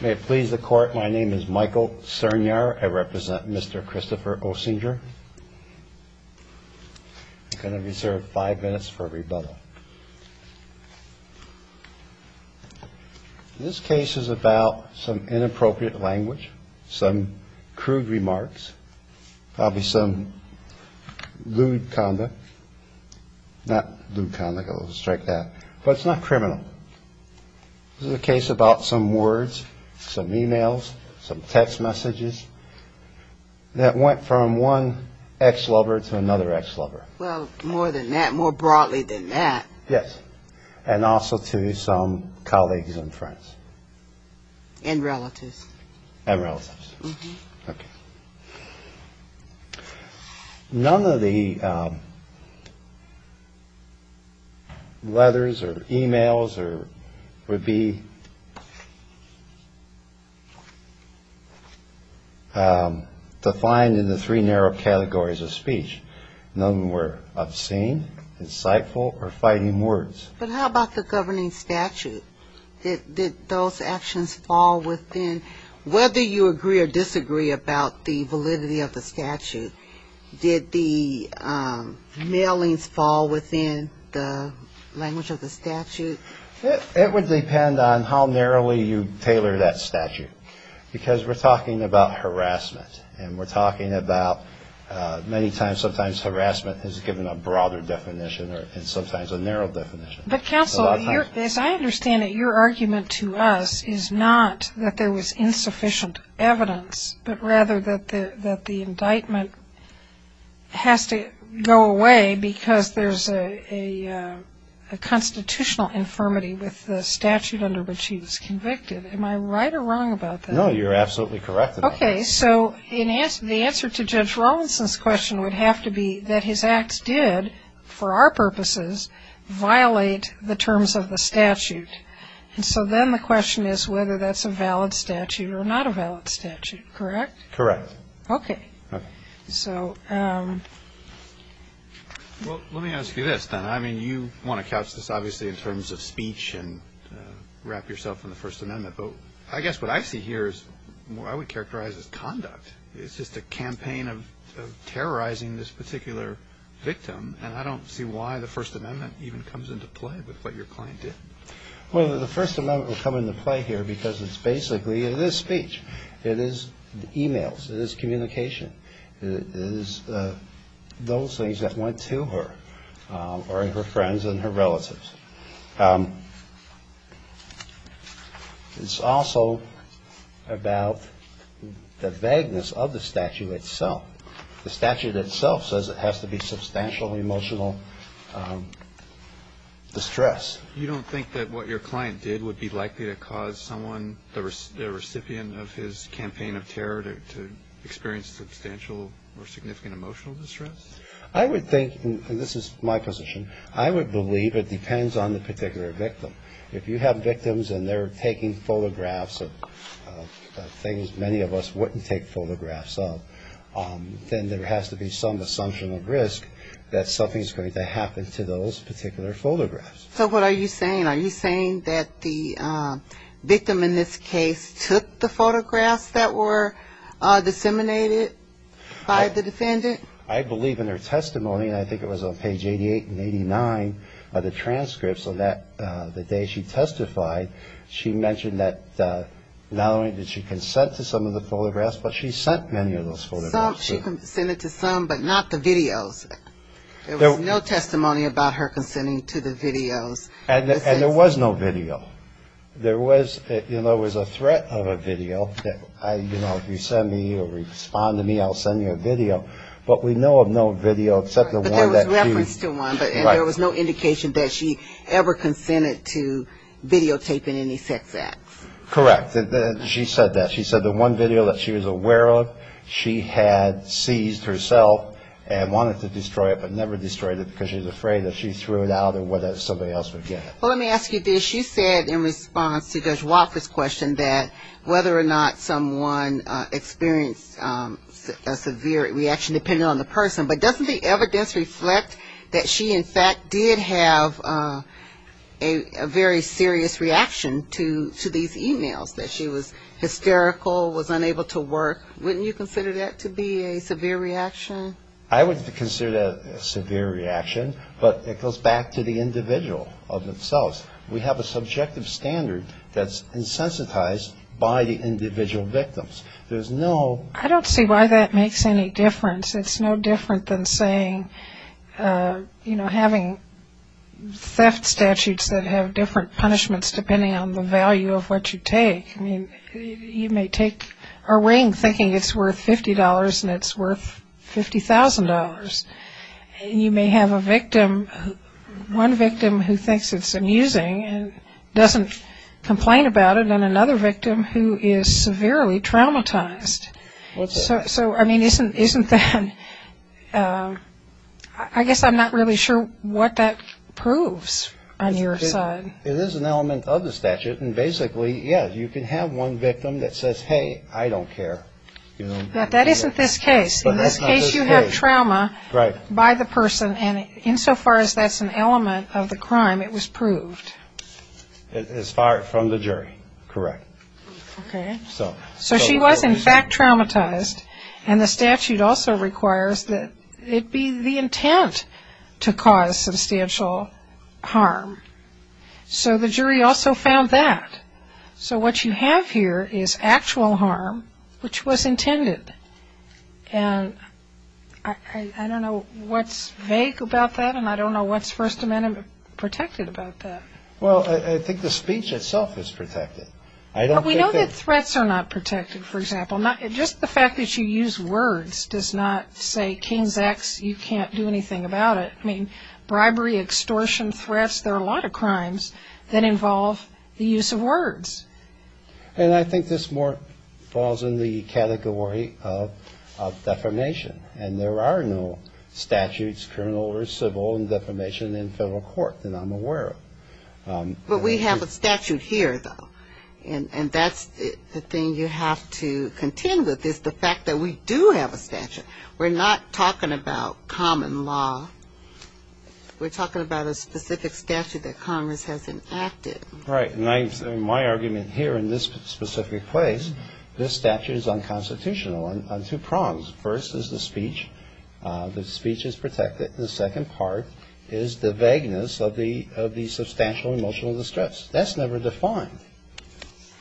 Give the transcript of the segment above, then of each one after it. May it please the court, my name is Michael Cernyar. I represent Mr. Christopher Osinger. I'm going to reserve five minutes for rebuttal. This case is about some inappropriate language, some crude remarks, probably some lewd conduct. Not lewd conduct, I'll strike that. But it's not criminal. This is a case about some words, some e-mails, some text messages that went from one ex-lover to another ex-lover. Well, more than that, more broadly than that. Yes. And also to some colleagues and friends. And relatives. And relatives. Okay. None of the letters or e-mails would be defined in the three narrow categories of speech. None were obscene, insightful, or fighting words. But how about the governing statute? Did those actions fall within, whether you agree or disagree about the validity of the statute, did the mailings fall within the language of the statute? It would depend on how narrowly you tailor that statute. Because we're talking about harassment. And we're talking about many times sometimes harassment is given a broader definition and sometimes a narrow definition. But counsel, as I understand it, your argument to us is not that there was insufficient evidence, but rather that the indictment has to go away because there's a constitutional infirmity with the statute under which he was convicted. Am I right or wrong about that? No, you're absolutely correct about that. Okay. So the answer to Judge Rawlinson's question would have to be that his acts did, for our purposes, violate the terms of the statute. And so then the question is whether that's a valid statute or not a valid statute. Correct? Correct. Okay. Okay. So. Well, let me ask you this then. I mean, you want to couch this obviously in terms of speech and wrap yourself in the First Amendment. But I guess what I see here is what I would characterize as conduct. It's just a campaign of terrorizing this particular victim. And I don't see why the First Amendment even comes into play with what your client did. Well, the First Amendment will come into play here because it's basically, it is speech. It is e-mails. It is communication. It is those things that went to her or her friends and her relatives. It's also about the vagueness of the statute itself. The statute itself says it has to be substantial emotional distress. You don't think that what your client did would be likely to cause someone, the recipient of his campaign of terror, to experience substantial or significant emotional distress? I would think, and this is my position, I would believe it depends on the particular victim. If you have victims and they're taking photographs of things many of us wouldn't take photographs of, then there has to be some assumption of risk that something is going to happen to those particular photographs. So what are you saying? Are you saying that the victim in this case took the photographs that were disseminated by the defendant? I believe in her testimony, and I think it was on page 88 and 89 of the transcripts on the day she testified, she mentioned that not only did she consent to some of the photographs, but she sent many of those photographs. She consented to some, but not the videos. There was no testimony about her consenting to the videos. And there was no video. There was a threat of a video that, you know, if you send me or respond to me, I'll send you a video. But we know of no video except the one that she. But there was reference to one, but there was no indication that she ever consented to videotaping any sex acts. Correct. She said that. She said the one video that she was aware of, she had seized herself and wanted to destroy it, but never destroyed it because she was afraid that she threw it out or whether somebody else would get it. Well, let me ask you this. You said in response to Judge Wofford's question that whether or not someone experienced a severe reaction, depending on the person, but doesn't the evidence reflect that she, in fact, did have a very serious reaction to these e-mails, that she was hysterical, was unable to work? Wouldn't you consider that to be a severe reaction? I wouldn't consider that a severe reaction, but it goes back to the individual of themselves. We have a subjective standard that's insensitized by the individual victims. There's no. I don't see why that makes any difference. It's no different than saying, you know, having theft statutes that have different punishments depending on the value of what you take. I mean, you may take a ring thinking it's worth $50 and it's worth $50,000. You may have a victim, one victim who thinks it's amusing and doesn't complain about it, and another victim who is severely traumatized. So, I mean, isn't that ‑‑ I guess I'm not really sure what that proves on your side. It is an element of the statute, and basically, yes, you can have one victim that says, hey, I don't care. That isn't this case. In this case, you have trauma by the person, and insofar as that's an element of the crime, it was proved. As far from the jury, correct. Okay. So she was, in fact, traumatized, and the statute also requires that it be the intent to cause substantial harm. So the jury also found that. So what you have here is actual harm, which was intended. And I don't know what's vague about that, and I don't know what's First Amendment protected about that. Well, I think the speech itself is protected. Well, we know that threats are not protected, for example. Just the fact that you use words does not say, King's X, you can't do anything about it. I mean, bribery, extortion, threats, there are a lot of crimes that involve the use of words. And I think this more falls in the category of defamation, and there are no statutes, criminal or civil, in defamation in federal court that I'm aware of. But we have a statute here, though. And that's the thing you have to contend with is the fact that we do have a statute. We're not talking about common law. We're talking about a specific statute that Congress has enacted. Right. And my argument here in this specific place, this statute is unconstitutional on two prongs. First is the speech. The speech is protected. The second part is the vagueness of the substantial emotional distress. That's never defined.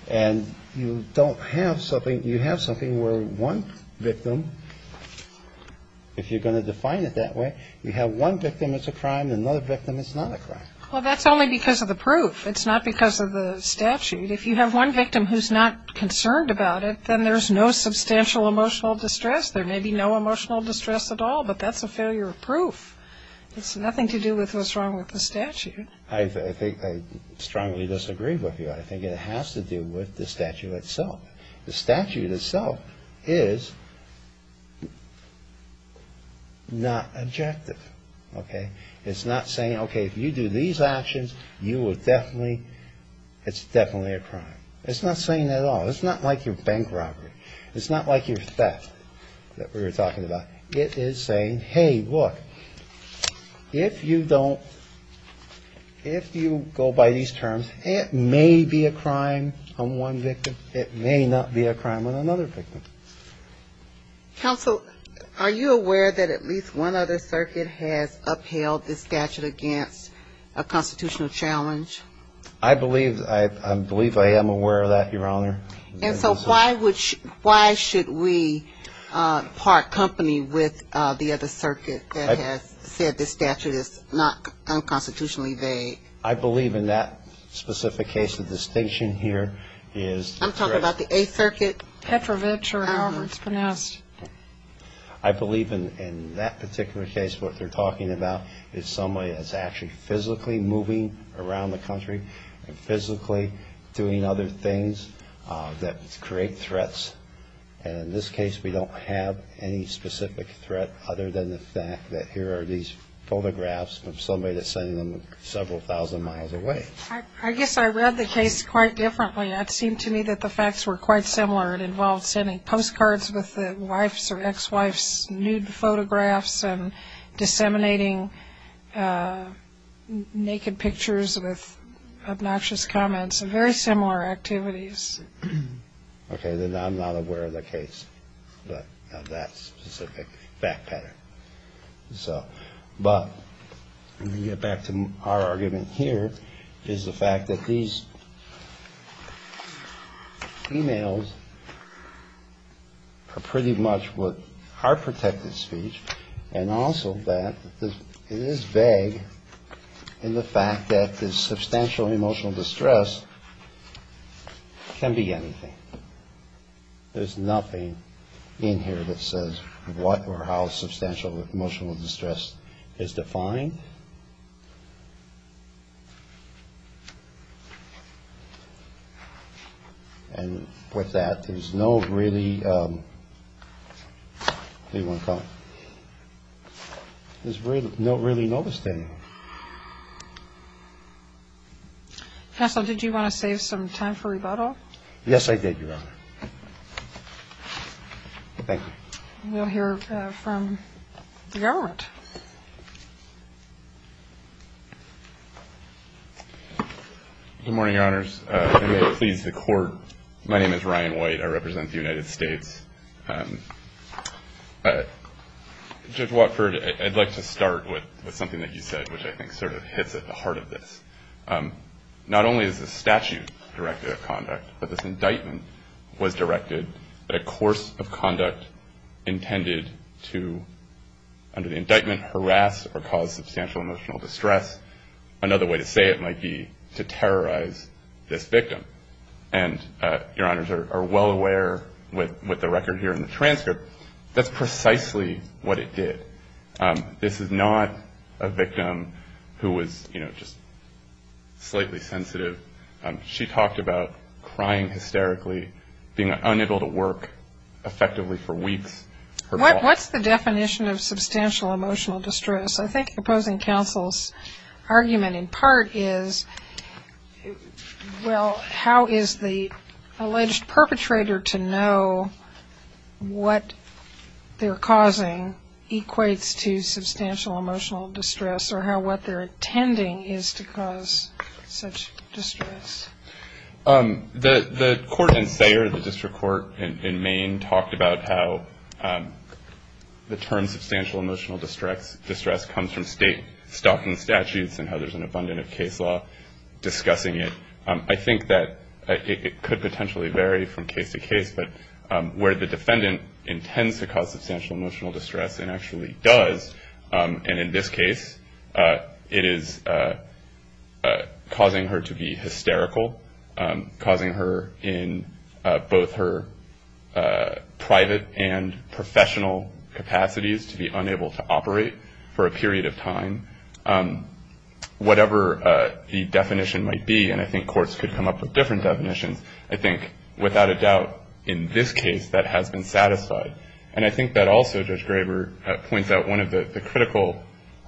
And you don't have something, you have something where one victim, if you're going to define it that way, you have one victim that's a crime and another victim that's not a crime. Well, that's only because of the proof. It's not because of the statute. If you have one victim who's not concerned about it, then there's no substantial emotional distress. There may be no emotional distress at all, but that's a failure of proof. It's nothing to do with what's wrong with the statute. I think I strongly disagree with you. I think it has to do with the statute itself. The statute itself is not objective. Okay? It's not saying, okay, if you do these actions, you will definitely, it's definitely a crime. It's not saying that at all. It's not like your bank robbery. It's not like your theft that we were talking about. It is saying, hey, look, if you don't, if you go by these terms, it may be a crime on one victim. It may not be a crime on another victim. Counsel, are you aware that at least one other circuit has upheld the statute against a constitutional challenge? I believe, I believe I am aware of that, Your Honor. And so why should we part company with the other circuit that has said the statute is not unconstitutionally vague? I believe in that specific case the distinction here is. I'm talking about the Eighth Circuit. Petrovich or Alvarez, pronounced. I believe in that particular case what they're talking about is somebody that's actually physically moving around the country and physically doing other things that create threats. And in this case we don't have any specific threat other than the fact that here are these photographs of somebody that's sending them several thousand miles away. I guess I read the case quite differently. It seemed to me that the facts were quite similar. It involved sending postcards with the wife's or ex-wife's nude photographs and disseminating naked pictures with obnoxious comments. Very similar activities. Okay. Then I'm not aware of the case of that specific fact pattern. But let me get back to our argument here is the fact that these females are pretty much what are protected speech and also that it is vague in the fact that the substantial emotional distress can be anything. There's nothing in here that says what or how substantial emotional distress is defined. And with that, there's no really notice to anyone. Counsel, did you want to save some time for rebuttal? Yes, I did, Your Honor. Thank you. We'll hear from the government. Good morning, Your Honors. May it please the Court. My name is Ryan White. I represent the United States. Judge Watford, I'd like to start with something that you said, which I think sort of hits at the heart of this. Not only is the statute directed of conduct, but this indictment was directed at a course of conduct intended to, under the indictment, harass or cause substantial emotional distress. Another way to say it might be to terrorize this victim. And Your Honors are well aware with the record here in the transcript, that's precisely what it did. This is not a victim who was, you know, just slightly sensitive. She talked about crying hysterically, being unable to work effectively for weeks. What's the definition of substantial emotional distress? I think opposing counsel's argument in part is, well, how is the alleged perpetrator to know what they're causing equates to substantial emotional distress or how what they're intending is to cause such distress? The court in Sayre, the district court in Maine, talked about how the term substantial emotional distress comes from state stopping statutes and how there's an abundance of case law discussing it. I think that it could potentially vary from case to case, but where the defendant intends to cause substantial emotional distress and actually does, and in this case it is causing her to be hysterical, causing her in both her private and professional capacities to be unable to operate for a period of time. Whatever the definition might be, and I think courts could come up with different definitions, I think without a doubt in this case that has been satisfied. And I think that also Judge Graber points out one of the critical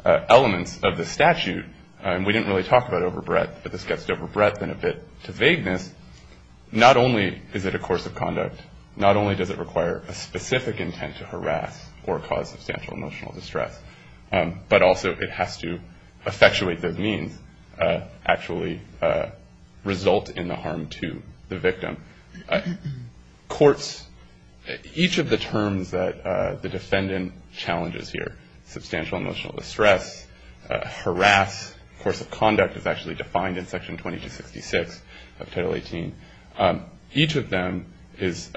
elements of the statute, and we didn't really talk about it over breadth, but this gets to over breadth and a bit to vagueness, not only is it a course of conduct, not only does it require a specific intent to harass or cause substantial emotional distress, but also it has to effectuate those means, actually result in the harm to the victim. Courts, each of the terms that the defendant challenges here, substantial emotional distress, harass, course of conduct is actually defined in Section 2266 of Title 18. Each of them has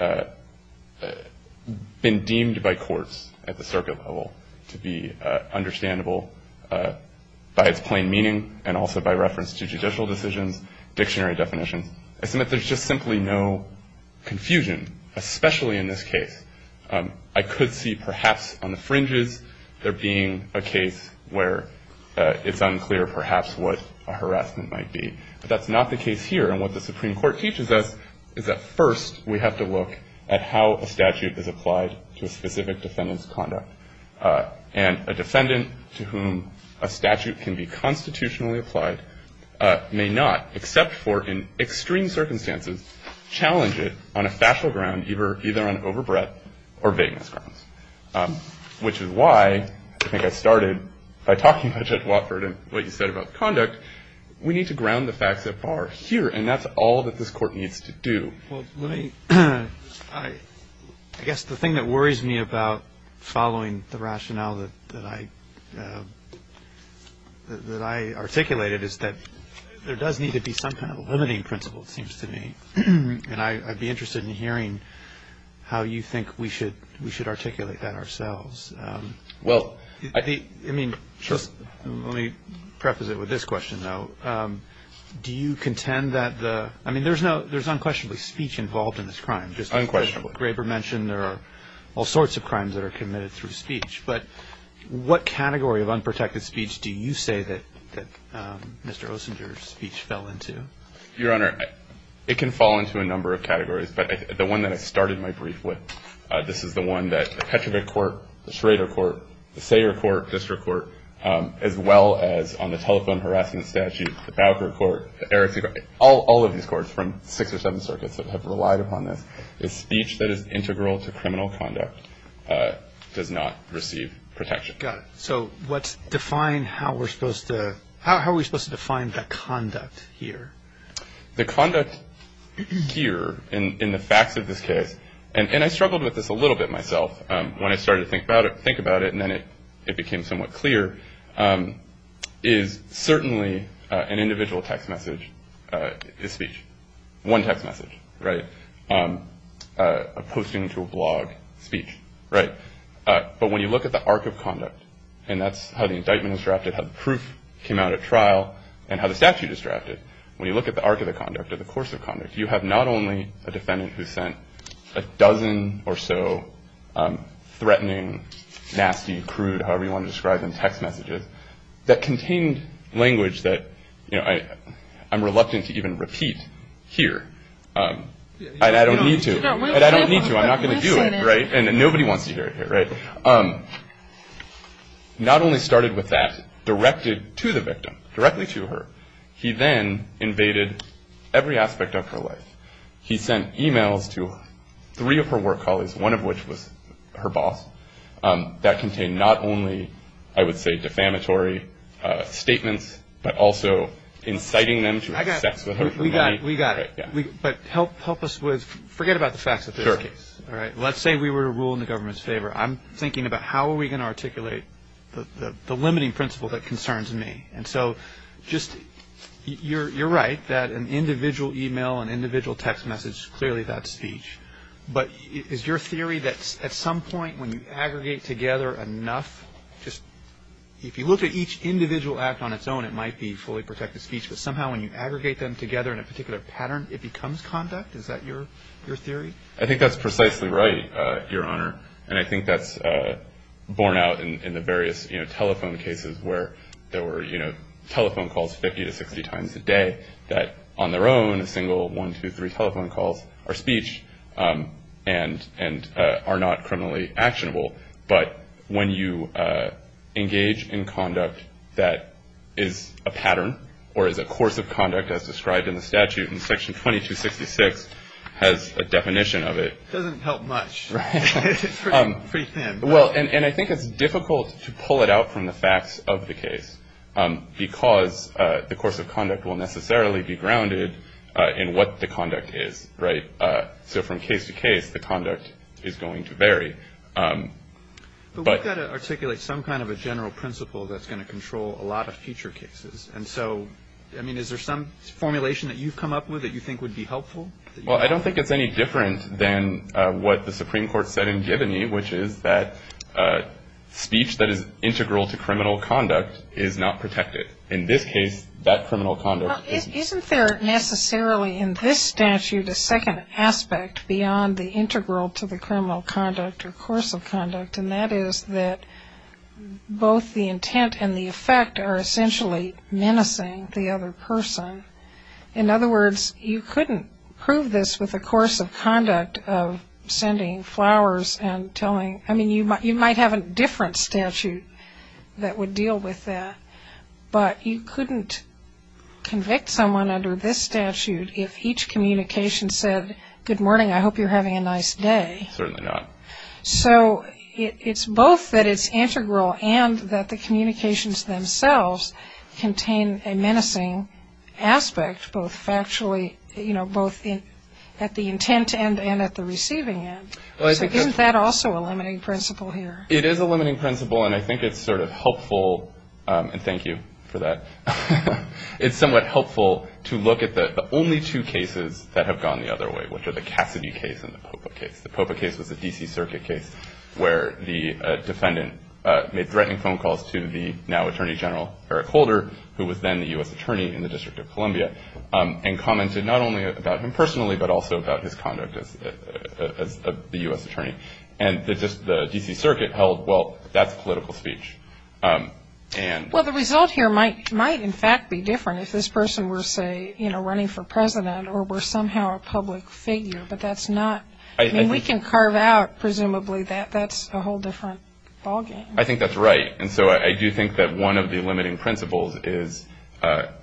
been deemed by courts at the circuit level to be understandable by its plain meaning and also by reference to judicial decisions, dictionary definitions. I submit there's just simply no confusion, especially in this case. I could see perhaps on the fringes there being a case where it's unclear perhaps what a harassment might be. But that's not the case here. And what the Supreme Court teaches us is that first we have to look at how a statute is applied to a specific defendant's conduct. And a defendant to whom a statute can be constitutionally applied may not, except for in extreme circumstances, challenge it on a factual ground either on over breadth or vagueness grounds, which is why I think I started by talking about Judge Watford and what you said about conduct. We need to ground the facts that are here, and that's all that this Court needs to do. Well, let me, I guess the thing that worries me about following the rationale that I articulated is that there does need to be some kind of limiting principle, it seems to me. And I'd be interested in hearing how you think we should articulate that ourselves. Well, I think, I mean, let me preface it with this question, though. Do you contend that the, I mean, there's unquestionably speech involved in this crime. Unquestionably. Graber mentioned there are all sorts of crimes that are committed through speech. But what category of unprotected speech do you say that Mr. Ossinger's speech fell into? Your Honor, it can fall into a number of categories, but the one that I started my brief with, this is the one that the Petrovic Court, the Schrader Court, the Sayre Court, District Court, as well as on the telephone harassment statute, the Fowker Court, the Erickson Court, all of these courts from six or seven circuits that have relied upon this, is speech that is integral to criminal conduct does not receive protection. Got it. So let's define how we're supposed to, how are we supposed to define the conduct here? The conduct here in the facts of this case, and I struggled with this a little bit myself when I started to think about it, and then it became somewhat clear, is certainly an individual text message is speech. One text message, right? A posting to a blog speech, right? But when you look at the arc of conduct, and that's how the indictment is drafted, how the proof came out at trial, and how the statute is drafted, when you look at the arc of the conduct or the course of conduct, you have not only a defendant who sent a dozen or so threatening, nasty, crude, however you want to describe them, text messages that contained language that, you know, I'm reluctant to even repeat here, and I don't need to, and I don't need to. I'm not going to do it, right? And nobody wants to hear it here, right? Not only started with that, directed to the victim, directly to her, he then invaded every aspect of her life. He sent e-mails to three of her work colleagues, one of which was her boss, that contained not only, I would say, defamatory statements, but also inciting them to have sex with her for money. We got it. But help us with, forget about the facts of this case. Sure. All right, let's say we were to rule in the government's favor. I'm thinking about how are we going to articulate the limiting principle that concerns me. And so just you're right that an individual e-mail, an individual text message, clearly that's speech. But is your theory that at some point when you aggregate together enough, just if you look at each individual act on its own, it might be fully protected speech, but somehow when you aggregate them together in a particular pattern, it becomes conduct? Is that your theory? I think that's precisely right, Your Honor. And I think that's borne out in the various telephone cases where there were, you know, telephone calls 50 to 60 times a day that on their own, a single one, two, three telephone calls are speech and are not criminally actionable. But when you engage in conduct that is a pattern or is a course of conduct, as described in the statute in Section 2266, has a definition of it. It doesn't help much. It's pretty thin. Well, and I think it's difficult to pull it out from the facts of the case because the course of conduct will necessarily be grounded in what the conduct is. Right. So from case to case, the conduct is going to vary. But we've got to articulate some kind of a general principle that's going to control a lot of future cases. And so, I mean, is there some formulation that you've come up with that you think would be helpful? Well, I don't think it's any different than what the Supreme Court said in Giboney, which is that speech that is integral to criminal conduct is not protected. In this case, that criminal conduct is not protected. Isn't there necessarily in this statute a second aspect beyond the integral to the criminal conduct or course of conduct, and that is that both the intent and the effect are essentially menacing the other person? In other words, you couldn't prove this with a course of conduct of sending flowers and telling... I mean, you might have a different statute that would deal with that, but you couldn't convict someone under this statute if each communication said, good morning, I hope you're having a nice day. Certainly not. So it's both that it's integral and that the communications themselves contain a menacing aspect, both factually, you know, both at the intent end and at the receiving end. So isn't that also a limiting principle here? It is a limiting principle, and I think it's sort of helpful... And thank you for that. It's somewhat helpful to look at the only two cases that have gone the other way, which are the Cassidy case and the Popa case. The Popa case was a D.C. Circuit case where the defendant made threatening phone calls to the now Attorney General Eric Holder, who was then the U.S. Attorney in the District of Columbia, and commented not only about him personally but also about his conduct as the U.S. Attorney. And the D.C. Circuit held, well, that's political speech. Well, the result here might in fact be different if this person were, say, you know, running for president or were somehow a public figure, but that's not... We can carve out, presumably, that that's a whole different ballgame. I think that's right. And so I do think that one of the limiting principles is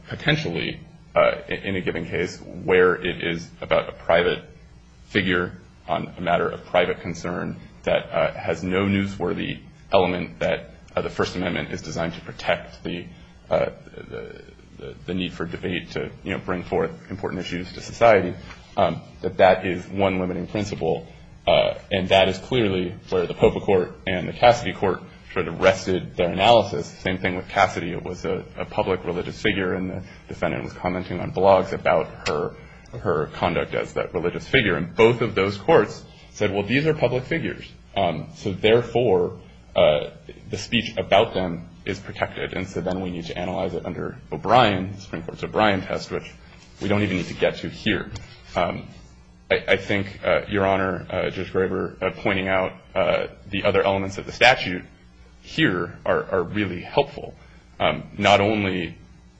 potentially, in a given case, where it is about a private figure on a matter of private concern that has no newsworthy element that the First Amendment is designed to protect the need for debate to, you know, bring forth important issues to society, that that is one limiting principle. And that is clearly where the Popa court and the Cassidy court sort of wrested their analysis. The same thing with Cassidy. It was a public religious figure, and the defendant was commenting on blogs about her conduct as that religious figure. And both of those courts said, well, these are public figures, so therefore the speech about them is protected. And so then we need to analyze it under O'Brien, the Supreme Court's O'Brien test, which we don't even need to get to here. I think, Your Honor, Judge Graber, pointing out the other elements of the statute here are really helpful, not only...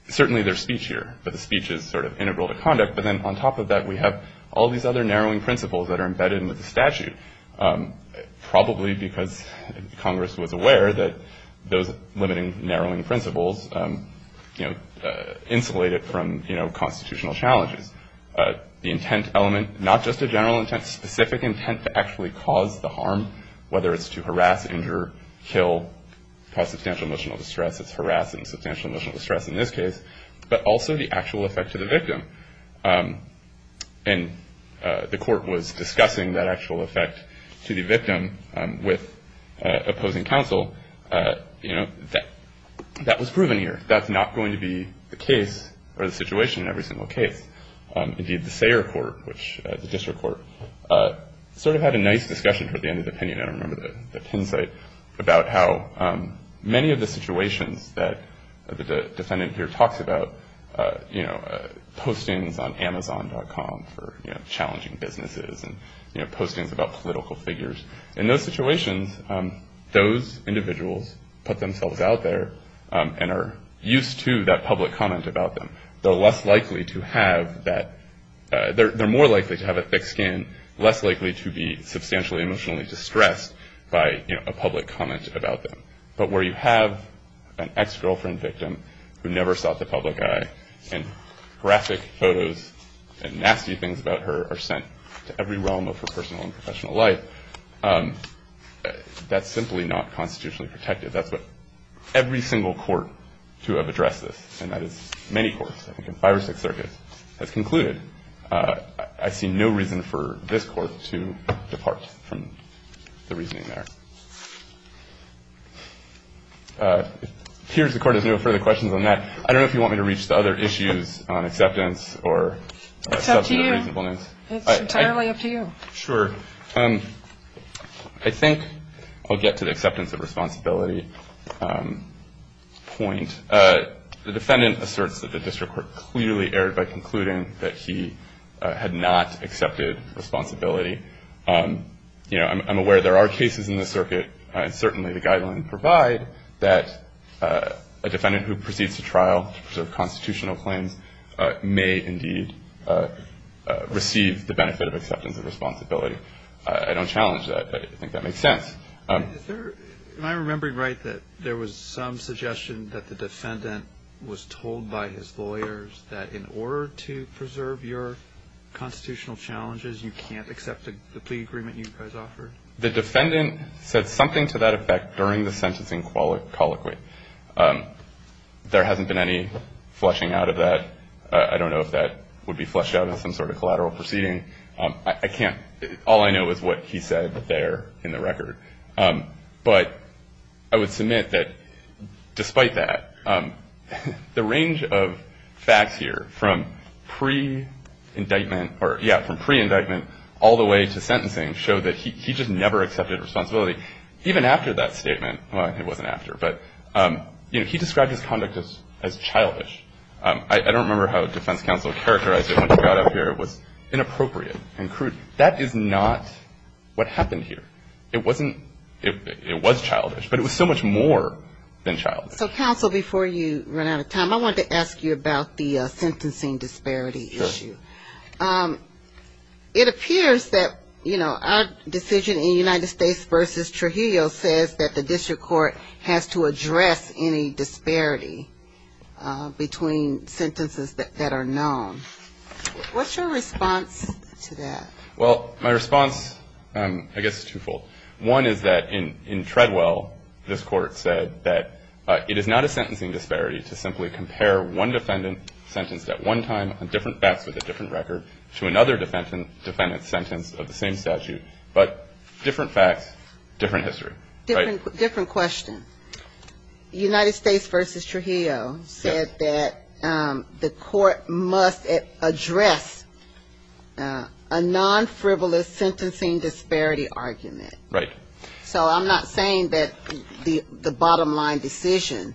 Certainly there's speech here, but the speech is sort of integral to conduct. But then on top of that, we have all these other narrowing principles that are embedded in the statute, probably because Congress was aware that those limiting, narrowing principles insulated from constitutional challenges. The intent element, not just a general intent, specific intent to actually cause the harm, whether it's to harass, injure, kill, cause substantial emotional distress. It's harassing, substantial emotional distress in this case, but also the actual effect to the victim. And the court was discussing that actual effect to the victim with opposing counsel. You know, that was proven here. That's not going to be the case or the situation in every single case. Indeed, the Sayre Court, which is a district court, sort of had a nice discussion toward the end of the opinion. I remember the pin site about how many of the situations that the defendant here talks about, you know, postings on Amazon.com for, you know, challenging businesses and, you know, postings about political figures. In those situations, those individuals put themselves out there and are used to that public comment about them. They're less likely to have that. They're more likely to have a thick skin, less likely to be substantially emotionally distressed by a public comment about them. But where you have an ex-girlfriend victim who never sought the public eye, and graphic photos and nasty things about her are sent to every realm of her personal and professional life, that's simply not constitutionally protected. That's what every single court to have addressed this, and that is many courts, I think in five or six circuits, has concluded. I see no reason for this court to depart from the reasoning there. It appears the Court has no further questions on that. I don't know if you want me to reach the other issues on acceptance or substantive reasonableness. It's up to you. It's entirely up to you. Sure. I think I'll get to the acceptance of responsibility point. The defendant asserts that the district court clearly erred by concluding that he had not accepted responsibility. You know, I'm aware there are cases in this circuit, and certainly the guidelines provide, that a defendant who proceeds to trial to preserve constitutional claims may indeed receive the benefit of acceptance of responsibility. I don't challenge that, but I think that makes sense. Am I remembering right that there was some suggestion that the defendant was told by his lawyers that in order to preserve your constitutional challenges, you can't accept the plea agreement you guys offered? The defendant said something to that effect during the sentencing colloquy. There hasn't been any flushing out of that. I don't know if that would be flushed out in some sort of collateral proceeding. I can't. All I know is what he said there in the record. But I would submit that despite that, the range of facts here from pre-indictment or, yeah, from pre-indictment all the way to sentencing show that he just never accepted responsibility. Even after that statement, well, it wasn't after, but, you know, he described his conduct as childish. I don't remember how defense counsel characterized it when he got up here. It was inappropriate and crude. That is not what happened here. It wasn't. It was childish, but it was so much more than childish. So, counsel, before you run out of time, I wanted to ask you about the sentencing disparity issue. Sure. It appears that, you know, our decision in United States v. Trujillo says that the district court has to address any disparity between sentences that are known. What's your response to that? Well, my response, I guess, is twofold. One is that in Treadwell, this Court said that it is not a sentencing disparity to simply compare one defendant sentenced at one time on different facts with a different record to another defendant sentenced of the same statute, but different facts, different history. Different question. United States v. Trujillo said that the court must address a non-frivolous sentencing disparity argument. Right. So I'm not saying that the bottom line decision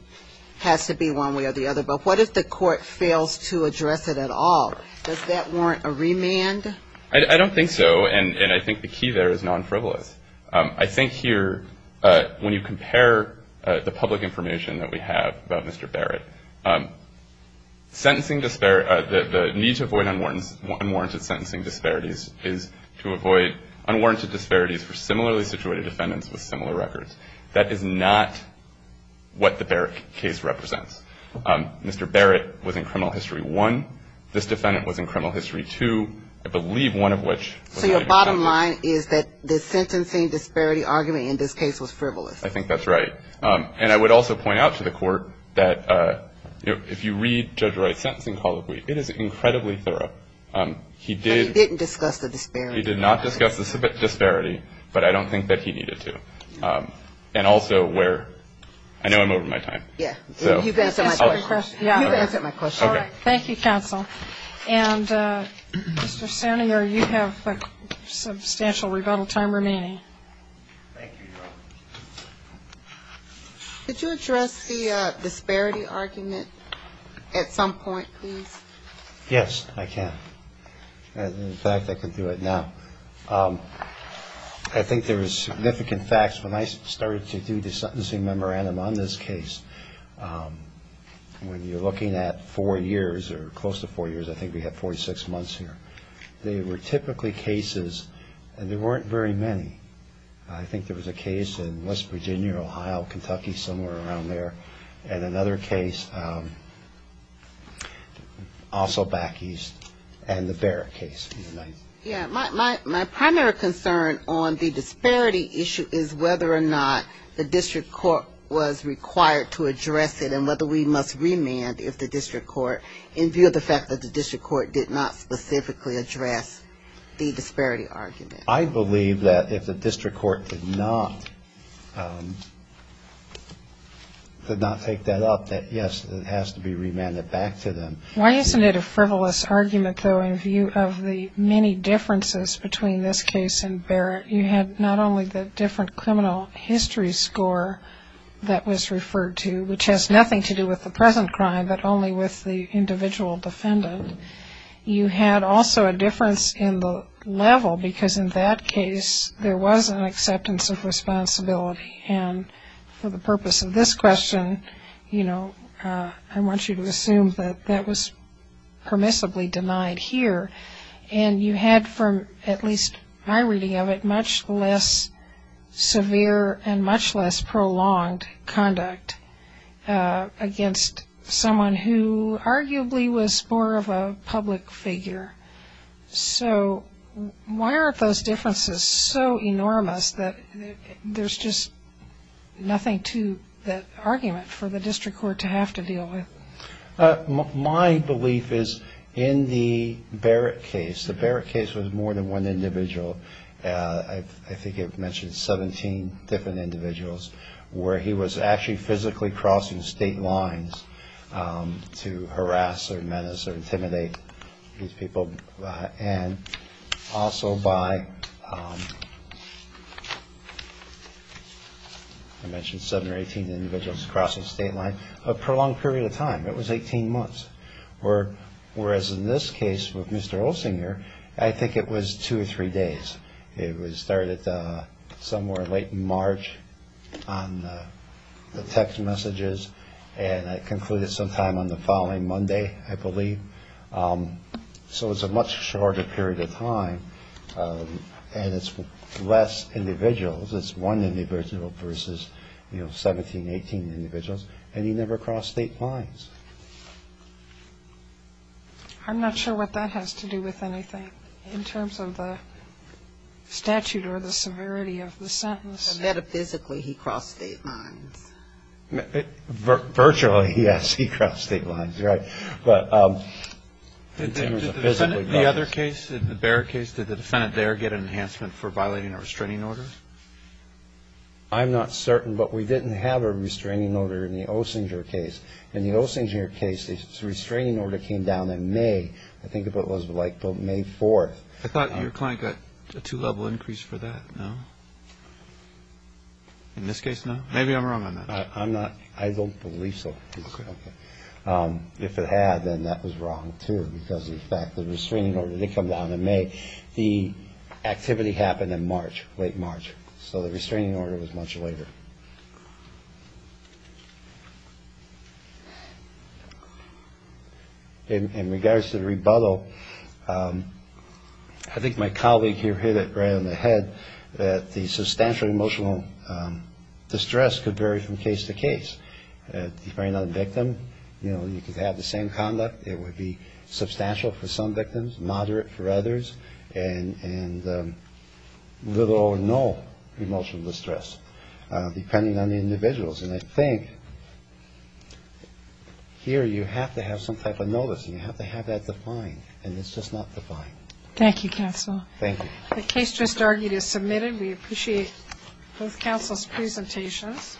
has to be one way or the other, but what if the court fails to address it at all? Does that warrant a remand? I don't think so, and I think the key there is non-frivolous. I think here when you compare the public information that we have about Mr. Barrett, the need to avoid unwarranted sentencing disparities is to avoid unwarranted disparities for similarly situated defendants with similar records. That is not what the Barrett case represents. Mr. Barrett was in criminal history one. This defendant was in criminal history two, I believe one of which. So your bottom line is that the sentencing disparity argument in this case was frivolous. I think that's right. And I would also point out to the court that if you read Judge Wright's sentencing colloquy, it is incredibly thorough. He didn't discuss the disparity. He did not discuss the disparity, but I don't think that he needed to. And also where I know I'm over my time. Yeah. You can answer my question. You can answer my question. All right. Thank you, counsel. And, Mr. Sanior, you have a substantial rebuttal time remaining. Thank you, Your Honor. Could you address the disparity argument at some point, please? Yes, I can. In fact, I can do it now. I think there was significant facts when I started to do the sentencing memorandum on this case. When you're looking at four years, or close to four years, I think we have 46 months here, they were typically cases, and there weren't very many. I think there was a case in West Virginia, Ohio, Kentucky, somewhere around there, and another case also back east, and the Barrett case. My primary concern on the disparity issue is whether or not the district court was required to address it, and whether we must remand if the district court, in view of the fact that the district court did not specifically address the disparity argument. I believe that if the district court did not take that up, that, yes, it has to be remanded back to them. Why isn't it a frivolous argument, though, in view of the many differences between this case and Barrett? You had not only the different criminal history score that was referred to, which has nothing to do with the present crime, but only with the individual defendant. You had also a difference in the level, because in that case, there was an acceptance of responsibility, and for the purpose of this question, I want you to assume that that was permissibly denied here, and you had, from at least my reading of it, much less severe and much less prolonged conduct against someone who arguably was more of a public figure. So why aren't those differences so enormous that there's just nothing to that argument for the district court to have to deal with? My belief is in the Barrett case, the Barrett case was more than one individual. I think it mentioned 17 different individuals where he was actually physically crossing state lines to harass or menace or intimidate these people, and also by, I mentioned seven or 18 individuals crossing state lines, a prolonged period of time. It was 18 months, whereas in this case with Mr. Olsinger, I think it was two or three days. It started somewhere late in March on the text messages, and it concluded sometime on the following Monday, I believe, so it was a much shorter period of time, and it's less individuals. It's one individual versus 17, 18 individuals, and he never crossed state lines. I'm not sure what that has to do with anything in terms of the statute or the severity of the sentence. Metaphysically, he crossed state lines. Virtually, yes, he crossed state lines, right, but in terms of physically. The other case, the Barrett case, did the defendant there get an enhancement for violating a restraining order? I'm not certain, but we didn't have a restraining order in the Olsinger case. In the Olsinger case, the restraining order came down in May. I think it was like May 4th. I thought your client got a two-level increase for that, no? In this case, no? Maybe I'm wrong on that. I'm not. I don't believe so. Okay. Okay. If it had, then that was wrong, too, because, in fact, the restraining order did come down in May. The activity happened in March, late March, so the restraining order was much later. In regards to the rebuttal, I think my colleague here hit it right on the head, that the substantial emotional distress could vary from case to case. If you find another victim, you know, you could have the same conduct. It would be substantial for some victims, moderate for others, and little or no emotional distress, depending on the individuals. And I think here you have to have some type of notice, and you have to have that defined, and it's just not defined. Thank you, counsel. Thank you. The case just argued is submitted. We appreciate both counsel's presentations.